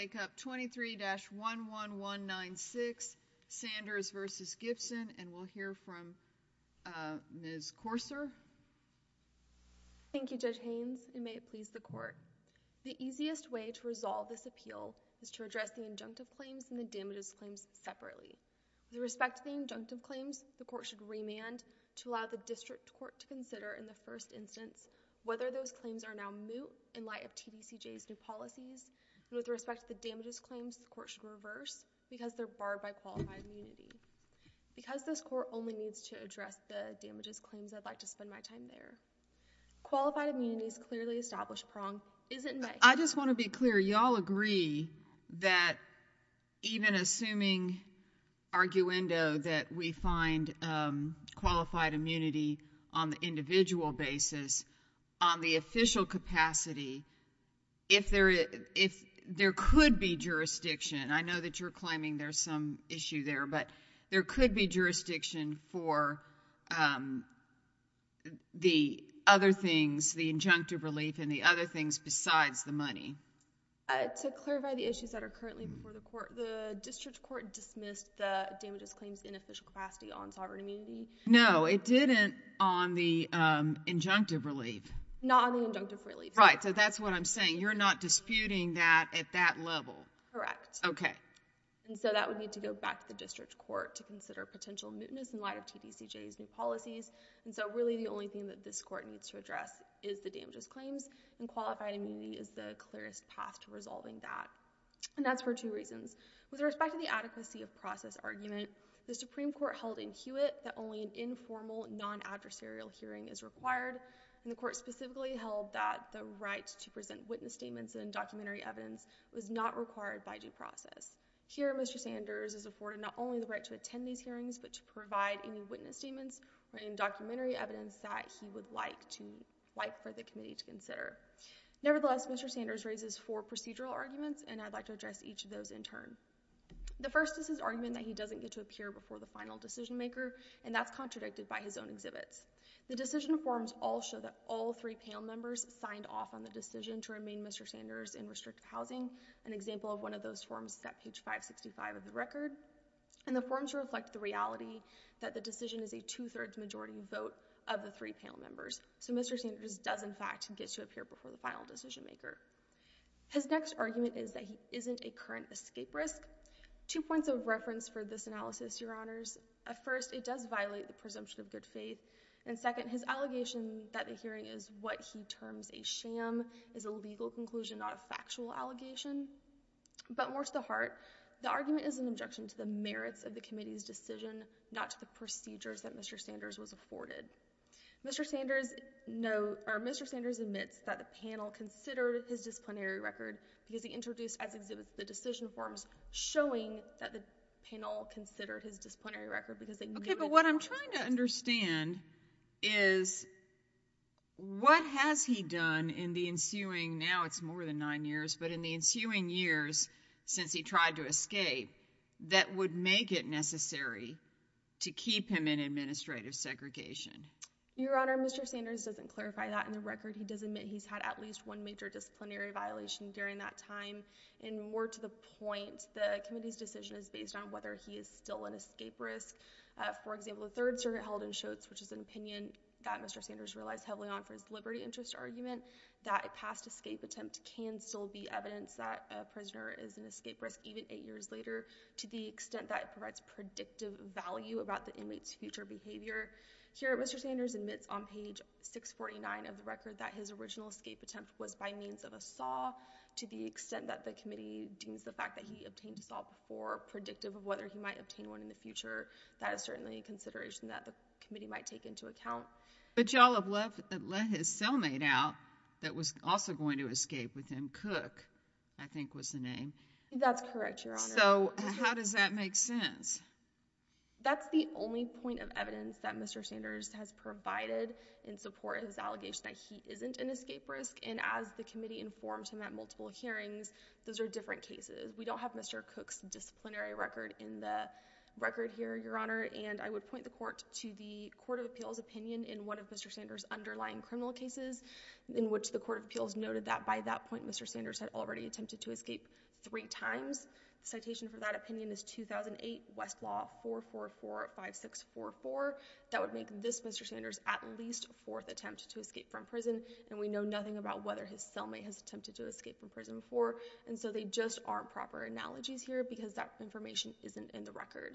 23-11196, Sanders v. Gibson, and we'll hear from Ms. Courser. Thank you, Judge Haynes, and may it please the Court. The easiest way to resolve this appeal is to address the injunctive claims and the damages claims separately. With respect to the injunctive claims, the Court should remand to allow the District Court to consider in the first instance whether those claims are now moot in light of TBCJ's new policies. And with respect to the damages claims, the Court should reverse because they're barred by qualified immunity. Because this Court only needs to address the damages claims, I'd like to spend my time there. Qualified immunity's clearly established prong isn't met. I just want to be clear, y'all agree that even assuming arguendo that we find qualified immunity on the individual basis, on the official capacity, if there is, if there could be jurisdiction, I know that you're claiming there's some issue there, but there could be jurisdiction for, um, the other things, the injunctive relief and the other things besides the money. Uh, to clarify the issues that are currently before the Court, the District Court dismissed the damages claims in official capacity on sovereign immunity? No, it didn't on the, um, injunctive relief. Not on the injunctive relief. Right. So that's what I'm saying. You're not disputing that at that level. Correct. Okay. And so that would need to go back to the District Court to consider potential mootness in light of TBCJ's new policies. And so really the only thing that this Court needs to address is the damages claims and qualified immunity is the clearest path to resolving that. And that's for two reasons. With respect to the adequacy of process argument, the Supreme Court held in Hewitt that only an informal non-adversarial hearing is required and the Court specifically held that the right to present witness statements and documentary evidence was not required by due process. Here Mr. Sanders is afforded not only the right to attend these hearings, but to provide any witness statements or any documentary evidence that he would like to, like for the committee to consider. Nevertheless, Mr. Sanders raises four procedural arguments and I'd like to address each of those in turn. The first is his argument that he doesn't get to appear before the final decision maker and that's contradicted by his own exhibits. The decision forms all show that all three panel members signed off on the decision to remain Mr. Sanders in restrictive housing. An example of one of those forms is at page 565 of the record. And the forms reflect the reality that the decision is a two-thirds majority vote of the three panel members. So Mr. Sanders does in fact get to appear before the final decision maker. His next argument is that he isn't a current escape risk. Two points of reference for this analysis, Your Honors. At first, it does violate the presumption of good faith, and second, his allegation that the hearing is what he terms a sham is a legal conclusion, not a factual allegation. But more to the heart, the argument is an objection to the merits of the committee's decision, not to the procedures that Mr. Sanders was afforded. Mr. Sanders admits that the panel considered his disciplinary record because he introduced as exhibits the decision forms showing that the panel considered his disciplinary record because they— Okay, but what I'm trying to understand is what has he done in the ensuing, now it's more than nine years, but in the ensuing years since he tried to escape that would make it necessary to keep him in administrative segregation? Your Honor, Mr. Sanders doesn't clarify that in the record. He does admit he's had at least one major disciplinary violation during that time. And more to the point, the committee's decision is based on whether he is still an escape risk. For example, the Third Circuit held in Shotes, which is an opinion that Mr. Sanders relies heavily on for his liberty interest argument, that a past escape attempt can still be evidence that a prisoner is an escape risk even eight years later to the extent that it provides predictive value about the inmate's future behavior. Here, Mr. Sanders admits on page 649 of the record that his original escape attempt was by means of a saw to the extent that the committee deems the fact that he obtained a saw before predictive of whether he might obtain one in the future. That is certainly a consideration that the committee might take into account. But y'all have let his cellmate out that was also going to escape with him, Cook, I think was the name. That's correct, Your Honor. So how does that make sense? That's the only point of evidence that Mr. Sanders has provided in support of his allegation that he isn't an escape risk. And as the committee informed him at multiple hearings, those are different cases. We don't have Mr. Cook's disciplinary record in the record here, Your Honor. And I would point the court to the Court of Appeals opinion in one of Mr. Sanders' underlying criminal cases in which the Court of Appeals noted that by that point, Mr. Sanders had already attempted to escape three times. The citation for that opinion is 2008 Westlaw 4445644. That would make this Mr. Sanders' at least fourth attempt to escape from prison. And we know nothing about whether his cellmate has attempted to escape from prison before. And so they just aren't proper analogies here because that information isn't in the record.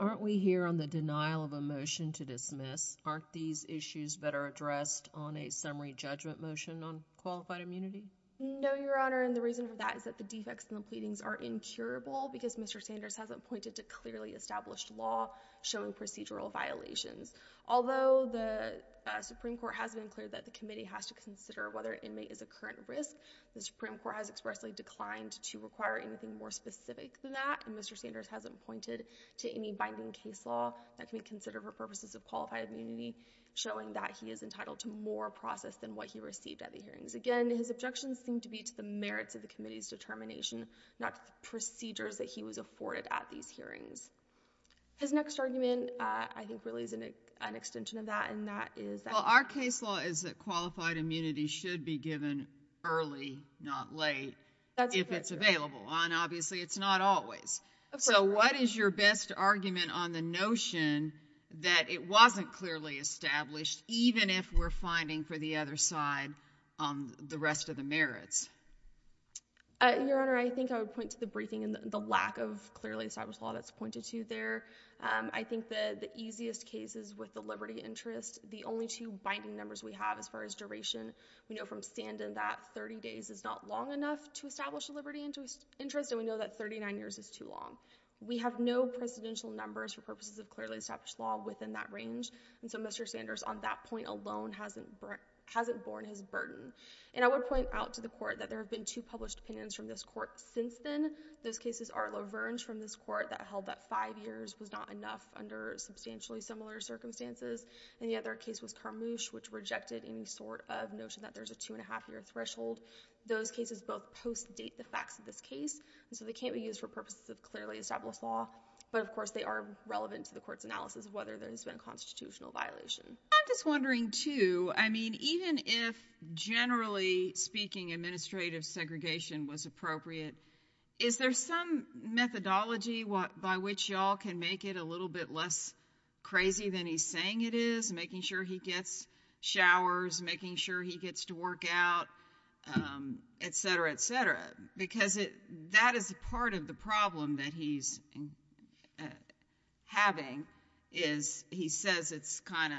Aren't we here on the denial of a motion to dismiss? Aren't these issues better addressed on a summary judgment motion on qualified immunity? No, Your Honor. And the reason for that is that the defects in the pleadings are incurable because Mr. Sanders hasn't pointed to clearly established law showing procedural violations. Although the Supreme Court has been clear that the committee has to consider whether inmate is a current risk, the Supreme Court has expressly declined to require anything more specific than that. And Mr. Sanders hasn't pointed to any binding case law that can be considered for purposes of qualified immunity, showing that he is entitled to more process than what he received at the hearings. Again, his objections seem to be to the merits of the committee's determination, not procedures that he was afforded at these hearings. His next argument, I think, really is an extension of that, and that is that— Well, our case law is that qualified immunity should be given early, not late, if it's available. And obviously, it's not always. So what is your best argument on the notion that it wasn't clearly established, even if we're finding for the other side the rest of the merits? Your Honor, I think I would point to the briefing and the lack of clearly established law that's pointed to there. I think that the easiest cases with the liberty interest, the only two binding numbers we have as far as duration, we know from Standen that 30 days is not long enough to establish a liberty interest, and we know that 39 years is too long. We have no precedential numbers for purposes of clearly established law within that range. And so Mr. Sanders, on that point alone, hasn't borne his burden. And I would point out to the Court that there have been two published opinions from this Court since then. Those cases are LaVernge from this Court that held that five years was not enough under substantially similar circumstances, and the other case was Carmouche, which rejected any sort of notion that there's a two-and-a-half-year threshold. Those cases both post-date the facts of this case, and so they can't be used for purposes of clearly established law, but, of course, they are relevant to the Court's analysis of whether there has been a constitutional violation. I'm just wondering, too, I mean, even if, generally speaking, administrative segregation was appropriate, is there some methodology by which y'all can make it a little bit less crazy than he's saying it is, making sure he gets showers, making sure he gets to work out, et cetera, et cetera? Because that is part of the problem that he's having, is he says it's kind of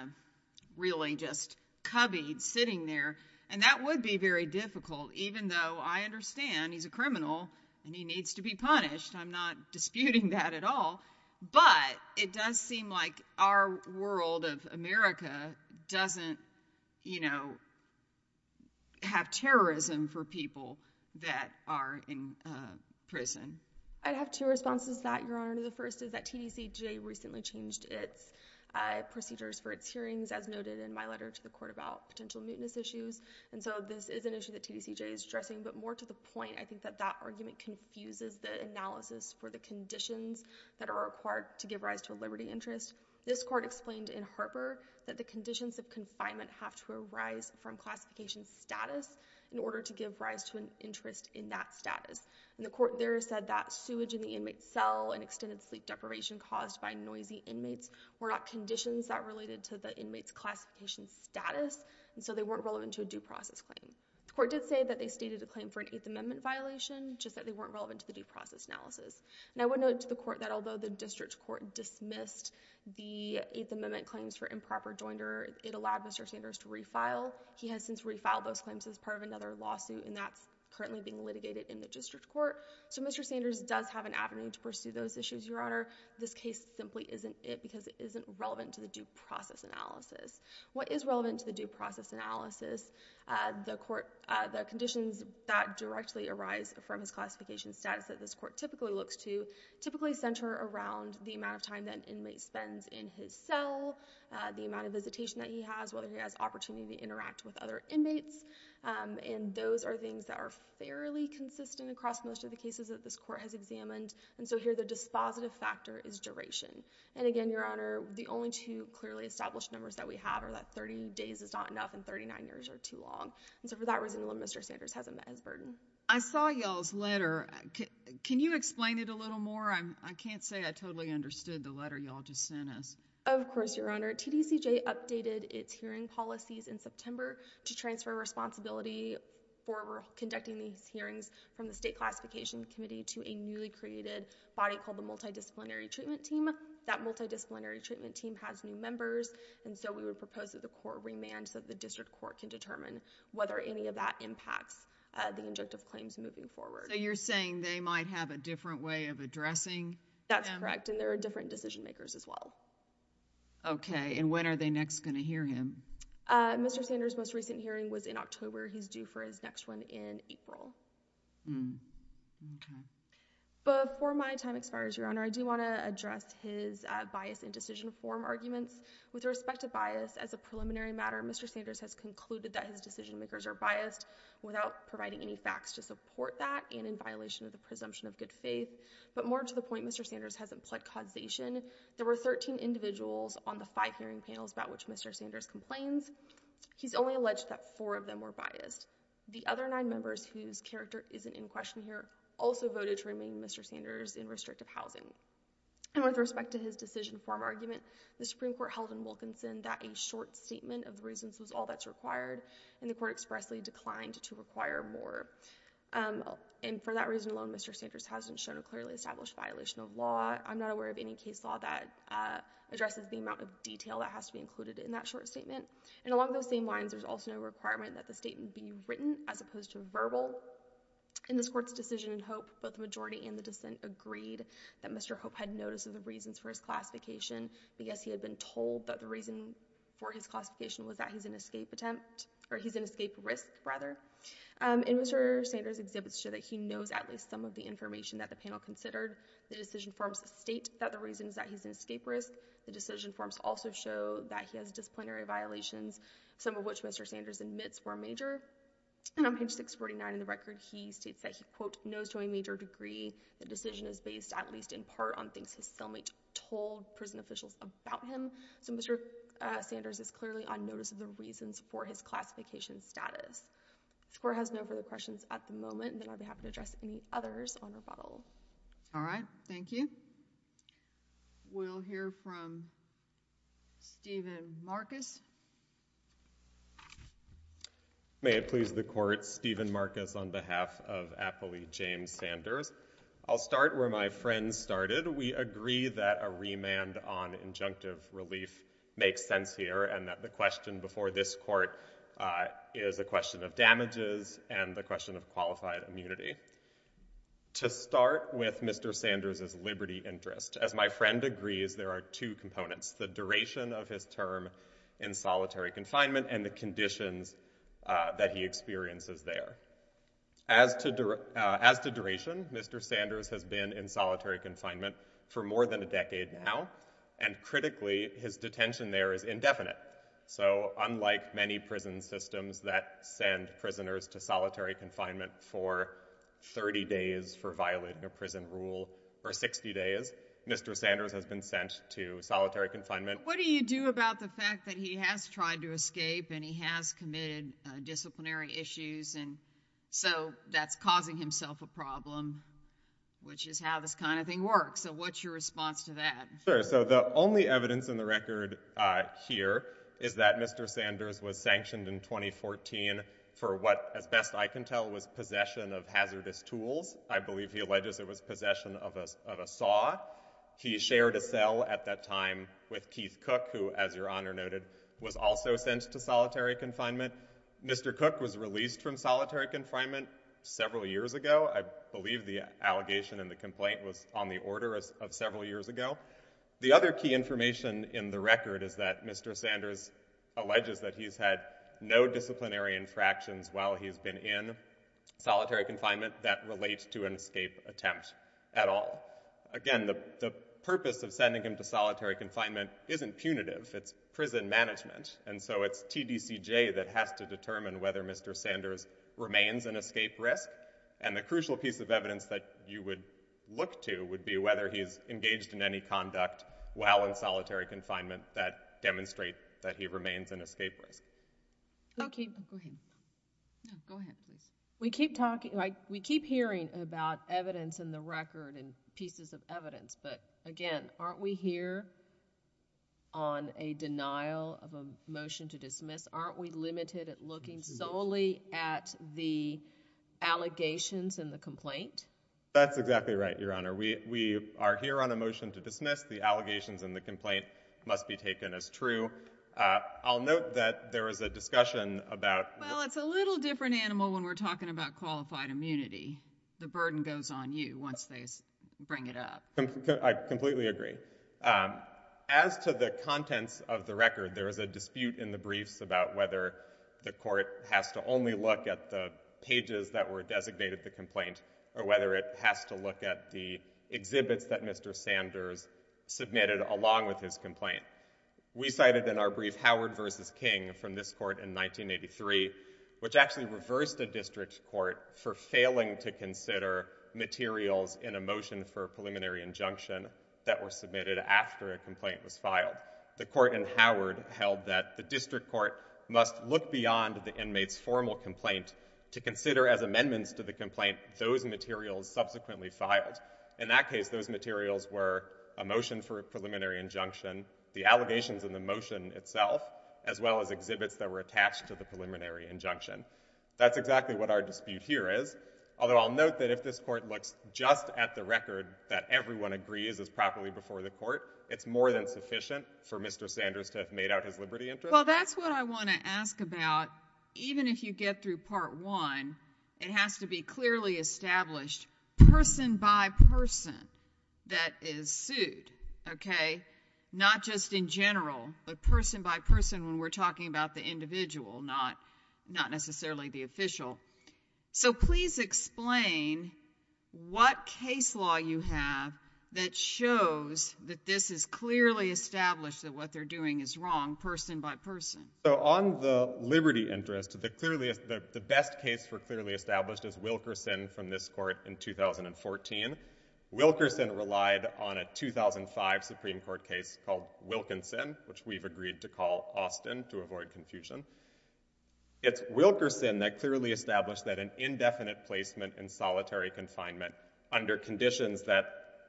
really just cubby sitting there, and that would be very difficult, even though I understand he's a criminal and he needs to be punished. I'm not disputing that at all, but it does seem like our world of America doesn't, you know, have terrorism for people that are in prison. I'd have two responses to that, Your Honor. The first is that TDCJ recently changed its procedures for its hearings, as noted in my letter to the Court about potential mutinous issues, and so this is an issue that TDCJ is addressing, but more to the point, I think that that argument confuses the analysis for the conditions that are required to give rise to a liberty interest. This Court explained in Harper that the conditions of confinement have to arise from classification status in order to give rise to an interest in that status, and the Court there said that sewage in the inmate's cell and extended sleep deprivation caused by noisy inmates were not conditions that related to the inmate's classification status, and so they weren't relevant to a due process claim. The Court did say that they stated a claim for an Eighth Amendment violation, just that they weren't relevant to the due process analysis, and I would note to the Court that although the District Court dismissed the Eighth Amendment claims for improper joinder, it allowed Mr. Sanders to refile. He has since refiled those claims as part of another lawsuit, and that's currently being litigated in the District Court, so Mr. Sanders does have an avenue to pursue those issues, Your Honor. This case simply isn't it because it isn't relevant to the due process analysis. What is relevant to the due process analysis? The Court, the conditions that directly arise from his classification status that this Court typically looks to typically center around the amount of time that an inmate spends in his cell, the amount of visitation that he has, whether he has opportunity to interact with other inmates, and those are things that are fairly consistent across most of the cases that this Court has examined, and so here the dispositive factor is duration, and again, Your Honor, the only two clearly established numbers that we have are that 30 days is not enough and 39 years are too long, and so for that reason, Mr. Sanders hasn't met his burden. I saw y'all's letter. Can you explain it a little more? I can't say I totally understood the letter y'all just sent us. Of course, Your Honor. TDCJ updated its hearing policies in September to transfer responsibility for conducting these hearings from the State Classification Committee to a newly created body called the Multidisciplinary Treatment Team. That Multidisciplinary Treatment Team has new members, and so we would propose that the District Court can determine whether any of that impacts the injunctive claims moving forward. So you're saying they might have a different way of addressing him? That's correct, and there are different decision makers as well. Okay, and when are they next going to hear him? Mr. Sanders' most recent hearing was in October. He's due for his next one in April. Okay. Before my time expires, Your Honor, I do want to address his bias in decision form arguments. With respect to bias, as a preliminary matter, Mr. Sanders has concluded that his decision makers are biased without providing any facts to support that and in violation of the presumption of good faith. But more to the point, Mr. Sanders hasn't pled causation. There were 13 individuals on the five hearing panels about which Mr. Sanders complains. He's only alleged that four of them were biased. The other nine members, whose character isn't in question here, also voted to remain Mr. Sanders in restrictive housing, and with respect to his decision form argument, the Supreme Court held in Wilkinson that a short statement of the reasons was all that's required, and the Court expressly declined to require more. And for that reason alone, Mr. Sanders hasn't shown a clearly established violation of law. I'm not aware of any case law that addresses the amount of detail that has to be included in that short statement. And along those same lines, there's also no requirement that the statement be written as opposed to verbal. In this Court's decision in Hope, both the majority and the dissent agreed that Mr. Hope had notice of the reasons for his classification, but yes, he had been told that the reason for his classification was that he's an escape attempt, or he's an escape risk, rather. And Mr. Sanders' exhibits show that he knows at least some of the information that the panel considered. The decision forms state that the reason is that he's an escape risk. The decision forms also show that he has disciplinary violations, some of which Mr. Sanders admits were major. And on page 649 of the record, he states that he, quote, knows to a major degree the decision is based at least in part on things his cellmate told prison officials about him. So Mr. Sanders is clearly on notice of the reasons for his classification status. This Court has no further questions at the moment, and then I'd be happy to address any others on rebuttal. All right. Thank you. We'll hear from Stephen Marcus. May it please the Court, Stephen Marcus on behalf of appellee James Sanders. I'll start where my friend started. We agree that a remand on injunctive relief makes sense here, and that the question before this Court is a question of damages and the question of qualified immunity. To start with Mr. Sanders' liberty interest, as my friend agrees, there are two components, the duration of his term in solitary confinement and the conditions that he experiences there. As to duration, Mr. Sanders has been in solitary confinement for more than a decade now, and critically, his detention there is indefinite. So unlike many prison systems that send prisoners to solitary confinement for 30 days for violating a prison rule, or 60 days, Mr. Sanders has been sent to solitary confinement. What do you do about the fact that he has tried to escape and he has committed disciplinary issues, and so that's causing himself a problem, which is how this kind of thing works. So what's your response to that? Sure. So the only evidence in the record here is that Mr. Sanders was sanctioned in 2014 for what, as best I can tell, was possession of hazardous tools. I believe he alleges it was possession of a saw. He shared a cell at that time with Keith Cook, who, as Your Honor noted, was also sent to solitary confinement. Mr. Cook was released from solitary confinement several years ago. I believe the allegation and the complaint was on the order of several years ago. The other key information in the record is that Mr. Sanders alleges that he's had no disciplinary infractions while he's been in solitary confinement that relates to an escape attempt at all. Again, the purpose of sending him to solitary confinement isn't punitive, it's prison management, and so it's TDCJ that has to determine whether Mr. Sanders remains an escape risk, and the crucial piece of evidence that you would look to would be whether he's engaged in any conduct while in solitary confinement that demonstrate that he remains an escape risk. Go ahead, please. We keep hearing about evidence in the record and pieces of evidence, but again, aren't we here on a denial of a motion to dismiss? Aren't we limited at looking solely at the allegations and the complaint? That's exactly right, Your Honor. We are here on a motion to dismiss. The allegations and the complaint must be taken as true. I'll note that there was a discussion about— Well, it's a little different animal when we're talking about qualified immunity. The burden goes on you once they bring it up. I completely agree. As to the contents of the record, there was a dispute in the briefs about whether the court has to only look at the pages that were designated the complaint or whether it has to look at the exhibits that Mr. Sanders submitted along with his complaint. We cited in our brief Howard v. King from this court in 1983, which actually reversed a district court for failing to consider materials in a motion for a preliminary injunction that were submitted after a complaint was filed. The court in Howard held that the district court must look beyond the inmate's formal complaint to consider as amendments to the complaint those materials subsequently filed. In that case, those materials were a motion for a preliminary injunction, the allegations in the motion itself, as well as exhibits that were attached to the preliminary injunction. That's exactly what our dispute here is, although I'll note that if this court looks just at the record that everyone agrees is properly before the court, it's more than sufficient for Mr. Sanders to have made out his liberty interest. Well, that's what I want to ask about. Even if you get through Part I, it has to be clearly established person by person that is sued, okay? Not just in general, but person by person when we're talking about the individual, not necessarily the official. So please explain what case law you have that shows that this is clearly established that what they're doing is wrong person by person. On the liberty interest, the best case for clearly established is Wilkerson from this court in 2014. Wilkerson relied on a 2005 Supreme Court case called Wilkinson, which we've agreed to call Austin to avoid confusion. It's Wilkerson that clearly established that an indefinite placement in solitary confinement under conditions that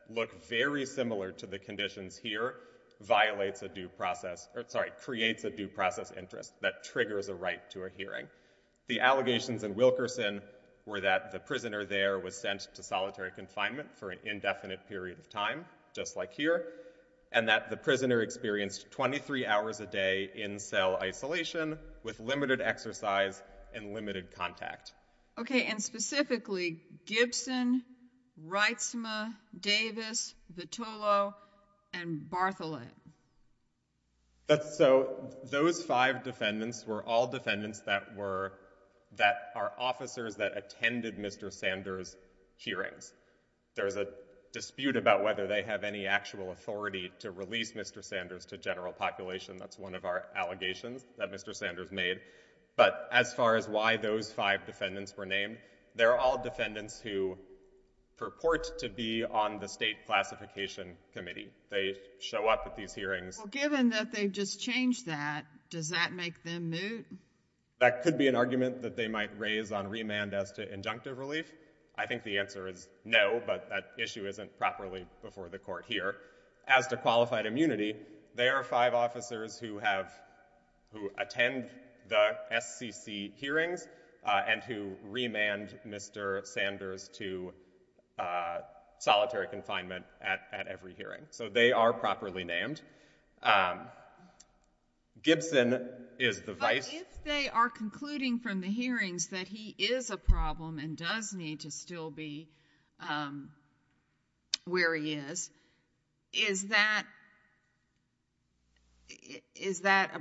look very similar to the conditions here violates a due process or, sorry, creates a due process interest that triggers a right to a hearing. The allegations in Wilkerson were that the prisoner there was sent to solitary confinement for an indefinite period of time, just like here, and that the prisoner experienced 23 hours a day in cell isolation with limited exercise and limited contact. Okay, and specifically, Gibson, Reitsma, Davis, Vitolo, and Bartholin. So those five defendants were all defendants that were, that are officers that attended Mr. Sanders' hearings. There's a dispute about whether they have any actual authority to release Mr. Sanders to general population. That's one of our allegations that Mr. Sanders made. But as far as why those five defendants were named, they're all defendants who purport to be on the state classification committee. They show up at these hearings. Well, given that they've just changed that, does that make them moot? That could be an argument that they might raise on remand as to injunctive relief. I think the answer is no, but that issue isn't properly before the court here. As to qualified immunity, there are five officers who have, who attend the SCC hearings and who remand Mr. Sanders to solitary confinement at every hearing. So they are properly named. Gibson is the vice. But if they are concluding from the hearings that he is a problem and does need to still be where he is, is that, is that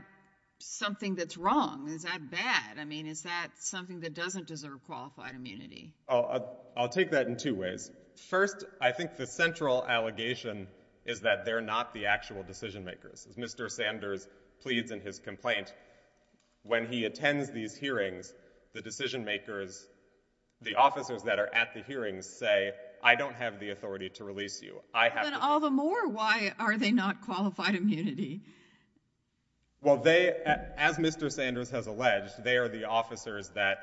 something that's wrong? Is that bad? I mean, is that something that doesn't deserve qualified immunity? I'll take that in two ways. First, I think the central allegation is that they're not the actual decision makers. As Mr. Sanders pleads in his complaint, when he attends these hearings, the decision makers, the officers that are at the hearings say, I don't have the authority to release you. I have to- But all the more, why are they not qualified immunity? Well, they, as Mr. Sanders has alleged, they are the officers that,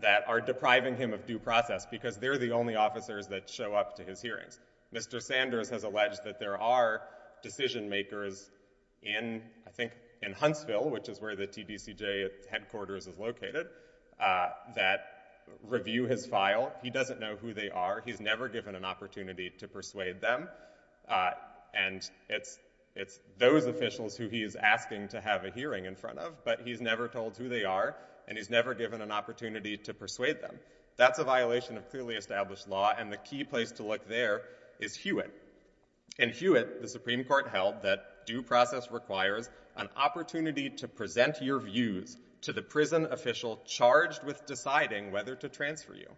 that are depriving him of due process because they're the only officers that show up to his hearings. Mr. Sanders has alleged that there are decision makers in, I think, in Huntsville, which is where the TDCJ headquarters is located, that review his file. He doesn't know who they are. He's never given an opportunity to persuade them. And it's, it's those officials who he's asking to have a hearing in front of, but he's never told who they are, and he's never given an opportunity to persuade them. That's a violation of clearly established law, and the key place to look there is Hewitt. In Hewitt, the Supreme Court held that due process requires an opportunity to present your views to the prison official charged with deciding whether to transfer you.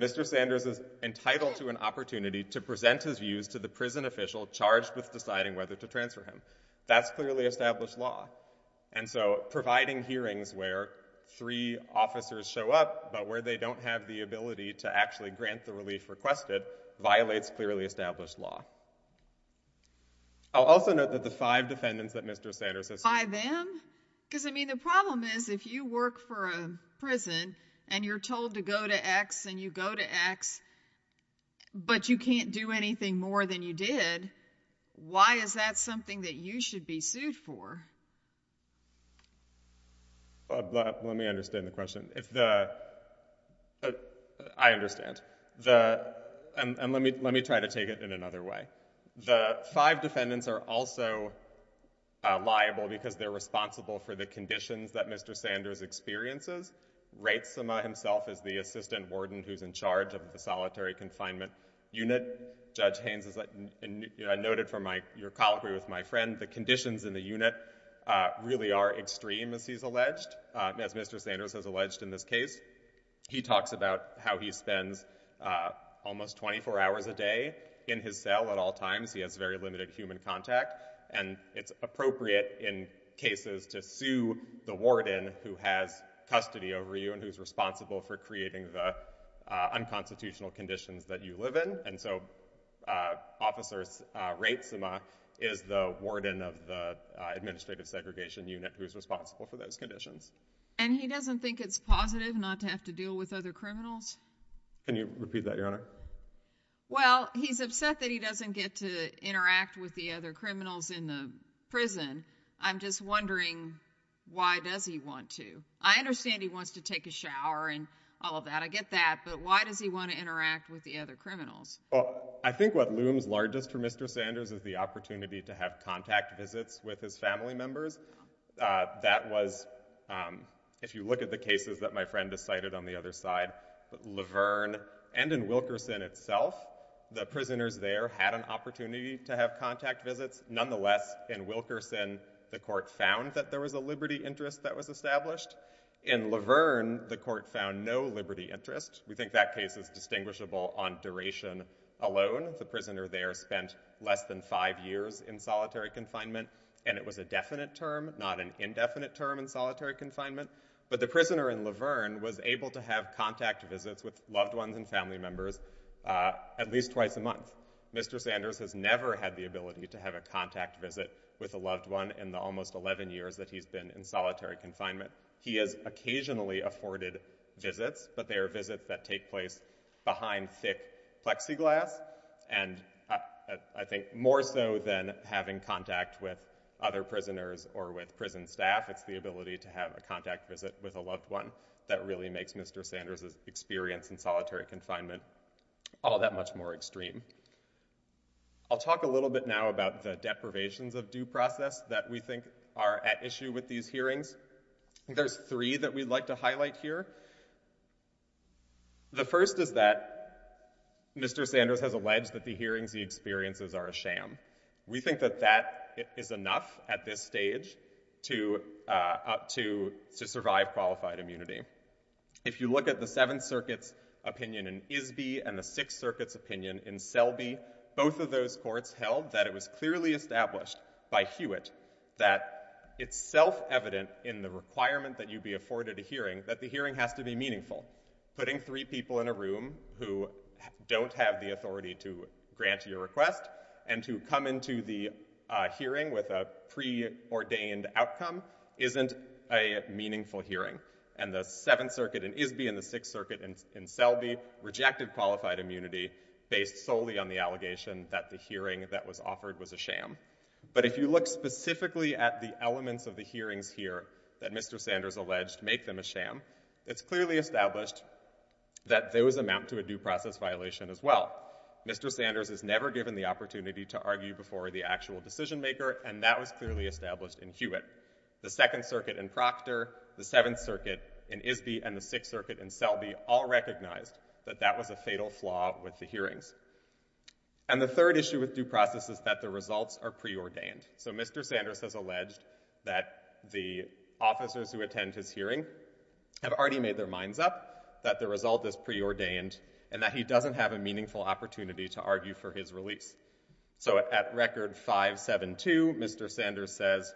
Mr. Sanders is entitled to an opportunity to present his views to the prison official charged with deciding whether to transfer him. That's clearly established law. And so, providing hearings where three officers show up, but where they don't have the ability to actually grant the relief requested, violates clearly established law. I'll also note that the five defendants that Mr. Sanders has sued. Five of them? Because, I mean, the problem is, if you work for a prison, and you're told to go to X and you go to X, but you can't do anything more than you did, why is that something that you should be sued for? Let, let me understand the question. If the, I understand. The, and let me, let me try to take it in another way. The five defendants are also liable because they're responsible for the conditions that Mr. Sanders experiences. Ratesima himself is the assistant warden who's in charge of the solitary confinement unit. Judge Haynes, as I noted from my, your colloquy with my friend, the conditions in the unit really are extreme, as he's alleged. As Mr. Sanders has alleged in this case, he talks about how he spends almost 24 hours a day in his cell at all times. He has very limited human contact. And it's appropriate in cases to sue the warden who has custody over you and who's responsible for creating the unconstitutional conditions that you live in. And so, Officer Ratesima is the warden of the administrative segregation unit who's responsible for those conditions. And he doesn't think it's positive not to have to deal with other criminals? Can you repeat that, Your Honor? Well, he's upset that he doesn't get to interact with the other criminals in the prison. I'm just wondering why does he want to? I understand he wants to take a shower and all of that, I get that, but why does he want to interact with the other criminals? I think what looms largest for Mr. Sanders is the opportunity to have contact visits with his family members. That was, if you look at the cases that my friend has cited on the other side, Laverne and in Wilkerson itself, the prisoners there had an opportunity to have contact visits. Nonetheless, in Wilkerson, the court found that there was a liberty interest that was In Laverne, the court found no liberty interest. We think that case is distinguishable on duration alone. The prisoner there spent less than five years in solitary confinement, and it was a definite term, not an indefinite term in solitary confinement. But the prisoner in Laverne was able to have contact visits with loved ones and family members at least twice a month. Mr. Sanders has never had the ability to have a contact visit with a loved one in the almost 11 years that he's been in solitary confinement. He has occasionally afforded visits, but they are visits that take place behind thick plexiglass and I think more so than having contact with other prisoners or with prison staff. It's the ability to have a contact visit with a loved one that really makes Mr. Sanders' experience in solitary confinement all that much more extreme. I'll talk a little bit now about the deprivations of due process that we think are at issue with these hearings. There's three that we'd like to highlight here. The first is that Mr. Sanders has alleged that the hearings he experiences are a sham. We think that that is enough at this stage to survive qualified immunity. If you look at the Seventh Circuit's opinion in Isby and the Sixth Circuit's opinion in Selby, both of those courts held that it was clearly established by Hewitt that it's self-evident in the requirement that you be afforded a hearing that the hearing has to be meaningful. Putting three people in a room who don't have the authority to grant your request and to come into the hearing with a preordained outcome isn't a meaningful hearing. And the Seventh Circuit in Isby and the Sixth Circuit in Selby rejected qualified immunity based solely on the allegation that the hearing that was offered was a sham. But if you look specifically at the elements of the hearings here that Mr. Sanders alleged make them a sham, it's clearly established that those amount to a due process violation as well. Mr. Sanders is never given the opportunity to argue before the actual decision maker, and that was clearly established in Hewitt. The Second Circuit in Proctor, the Seventh Circuit in Isby, and the Sixth Circuit in Selby all recognized that that was a fatal flaw with the hearings. And the third issue with due process is that the results are preordained. So Mr. Sanders has alleged that the officers who attend his hearing have already made their minds up, that the result is preordained, and that he doesn't have a meaningful opportunity to argue for his release. So at Record 572, Mr. Sanders says,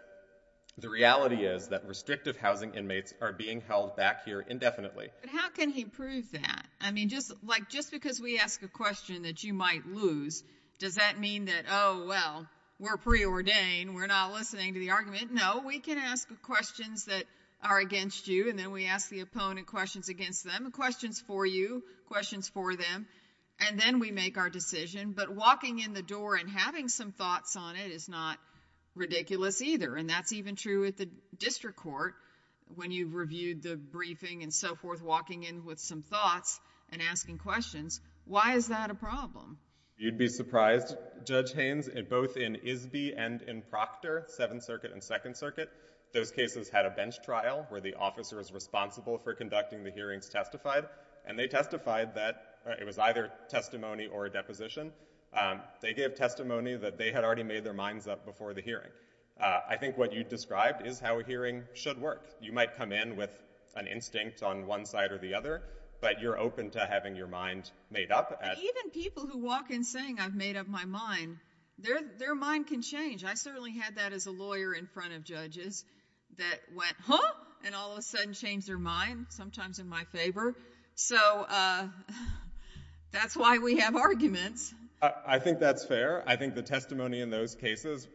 the reality is that restrictive housing inmates are being held back here indefinitely. But how can he prove that? I mean, just like, just because we ask a question that you might lose, does that mean that, oh, well, we're preordained, we're not listening to the argument? No, we can ask questions that are against you, and then we ask the opponent questions against them, questions for you, questions for them, and then we make our decision. But walking in the door and having some thoughts on it is not ridiculous either. And that's even true at the district court, when you've reviewed the briefing and so forth, walking in with some thoughts and asking questions, why is that a problem? You'd be surprised, Judge Haynes, both in Isby and in Proctor, Seventh Circuit and Second Circuit, those cases had a bench trial where the officer is responsible for conducting the hearings testified, and they testified that it was either testimony or a deposition. They gave testimony that they had already made their minds up before the hearing. I think what you described is how a hearing should work. You might come in with an instinct on one side or the other, but you're open to having your mind made up. Even people who walk in saying, I've made up my mind, their mind can change. I certainly had that as a lawyer in front of judges that went, huh? And all of a sudden changed their mind, sometimes in my favor. So that's why we have arguments. I think that's fair. I think the testimony in those cases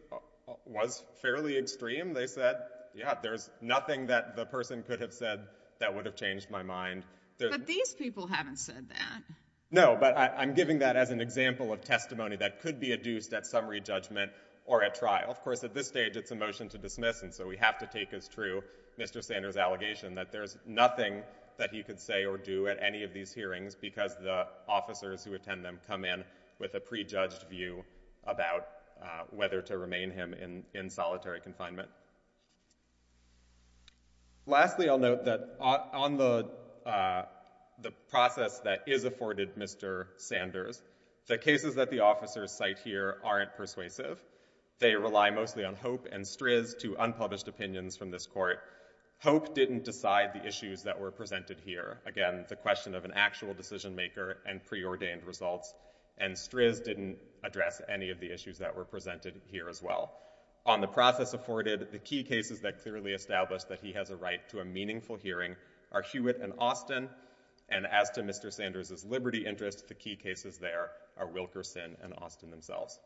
was fairly extreme. They said, yeah, there's nothing that the person could have said that would have changed my mind. But these people haven't said that. No, but I'm giving that as an example of testimony that could be adduced at summary judgment or at trial. Of course, at this stage, it's a motion to dismiss, and so we have to take as true Mr. Sanders' allegation that there's nothing that he could say or do at any of these hearings because the officers who attend them come in with a prejudged view about whether to remain him in solitary confinement. Lastly, I'll note that on the process that is afforded Mr. Sanders, the cases that the officers cite here aren't persuasive. They rely mostly on hope and strizz to unpublished opinions from this court. Hope didn't decide the issues that were presented here. Again, the question of an actual decision maker and preordained results. And strizz didn't address any of the issues that were presented here as well. On the process afforded, the key cases that clearly established that he has a right to a meaningful hearing are Hewitt and Austin, and as to Mr. Sanders' liberty interest, the key cases there are Wilkerson and Austin themselves.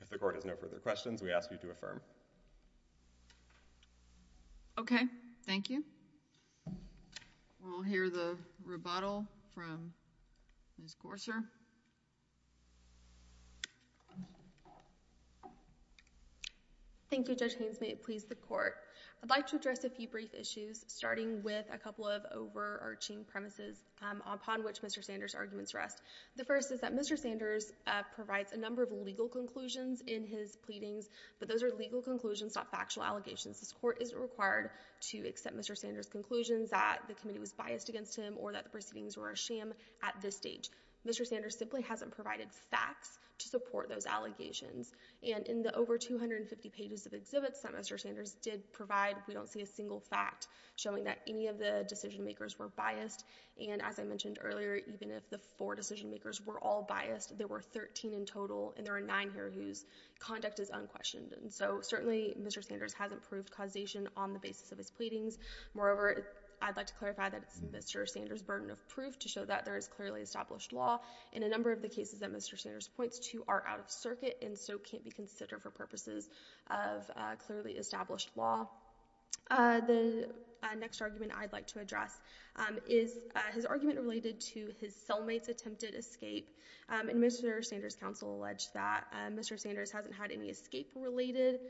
If the court has no further questions, we ask you to affirm. Okay. Thank you. We'll hear the rebuttal from Ms. Gorser. Thank you, Judge Haynes. May it please the court. I'd like to address a few brief issues starting with a couple of overarching premises upon which Mr. Sanders' arguments rest. The first is that Mr. Sanders provides a number of legal conclusions in his pleadings, but those are legal conclusions, not factual allegations. This court isn't required to accept Mr. Sanders' conclusions that the committee was biased against him or that the proceedings were a sham at this stage. Mr. Sanders simply hasn't provided facts to support those allegations. And in the over 250 pages of exhibits that Mr. Sanders did provide, we don't see a single fact showing that any of the decision makers were biased. And as I mentioned earlier, even if the four decision makers were all biased, there were 13 in total, and there are nine here whose conduct is unquestioned. And so, certainly, Mr. Sanders hasn't proved causation on the basis of his pleadings. Moreover, I'd like to clarify that it's Mr. Sanders' burden of proof to show that there is clearly established law, and a number of the cases that Mr. Sanders points to are out of circuit and so can't be considered for purposes of clearly established law. The next argument I'd like to address is his argument related to his cellmate's attempted escape. And Mr. Sanders' counsel alleged that Mr. Sanders hasn't had any escape-related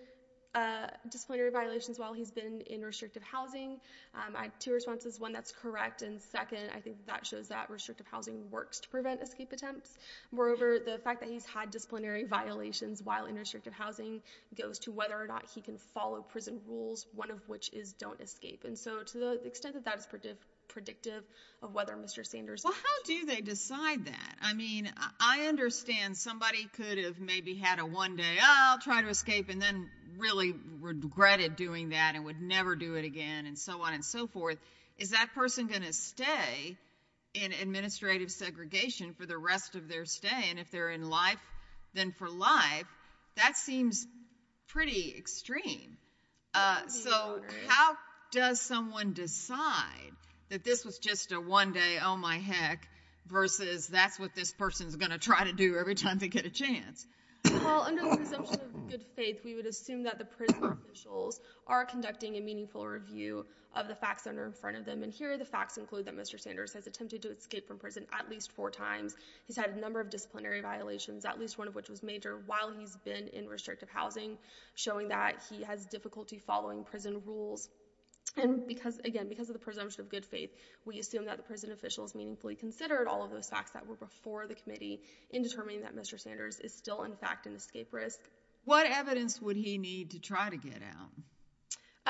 disciplinary violations while he's been in restrictive housing. I have two responses. One that's correct, and second, I think that shows that restrictive housing works to prevent escape attempts. Moreover, the fact that he's had disciplinary violations while in restrictive housing goes to whether or not he can follow prison rules, one of which is don't escape. And so, to the extent that that is predictive of whether Mr. Sanders... Well, how do they decide that? I mean, I understand somebody could have maybe had a one-day, oh, I'll try to escape, and then really regretted doing that and would never do it again, and so on and so forth. Is that person going to stay in administrative segregation for the rest of their stay? And if they're in life, then for life, that seems pretty extreme. So, how does someone decide that this was just a one-day, oh, my heck, versus that's what this person's going to try to do every time they get a chance? Well, under the presumption of good faith, we would assume that the prison officials are conducting a meaningful review of the facts that are in front of them. And here, the facts include that Mr. Sanders has attempted to escape from prison at least four times. He's had a number of disciplinary violations, at least one of which was major, while he's been in restrictive housing, showing that he has difficulty following prison rules. And again, because of the presumption of good faith, we assume that the prison officials meaningfully considered all of those facts that were before the committee in determining that Mr. Sanders is still, in fact, an escape risk. What evidence would he need to try to get out?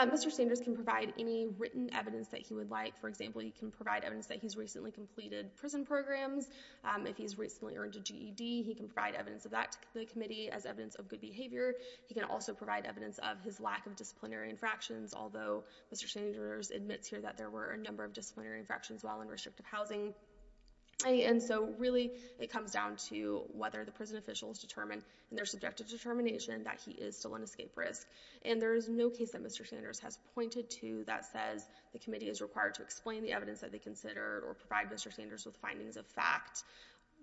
Mr. Sanders can provide any written evidence that he would like. For example, he can provide evidence that he's recently completed prison programs. If he's recently earned a GED, he can provide evidence of that to the committee as evidence of good behavior. He can also provide evidence of his lack of disciplinary infractions, although Mr. Sanders admits here that there were a number of disciplinary infractions while in restrictive housing. And so really, it comes down to whether the prison officials determine in their subjective determination that he is still an escape risk. And there is no case that Mr. Sanders has pointed to that says the committee is required to explain the evidence that they consider or provide Mr. Sanders with findings of fact.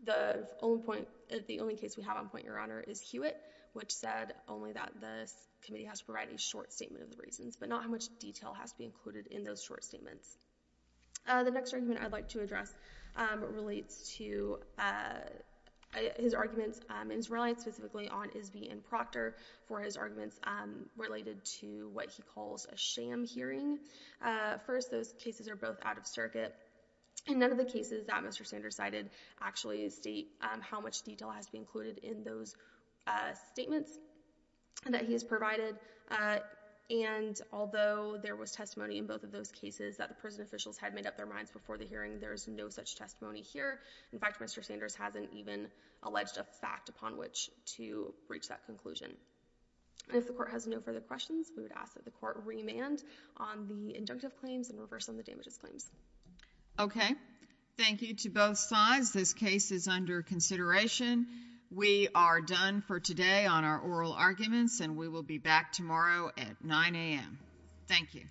The only case we have on point, Your Honor, is Hewitt, which said only that the committee has to provide a short statement of the reasons, but not how much detail has to be included in those short statements. The next argument I'd like to address relates to his arguments, and he's reliant specifically on Isby and Proctor for his arguments related to what he calls a sham hearing. First, those cases are both out of circuit. In none of the cases that Mr. Sanders cited actually state how much detail has to be included in those statements that he has provided. And although there was testimony in both of those cases that the prison officials had made up their minds before the hearing, there is no such testimony here. In fact, Mr. Sanders hasn't even alleged a fact upon which to reach that conclusion. If the Court has no further questions, we would ask that the Court remand on the injunctive claims and reverse on the damages claims. Thank you to both sides. This case is under consideration. We are done for today on our oral arguments, and we will be back tomorrow at 9 a.m. Thank you.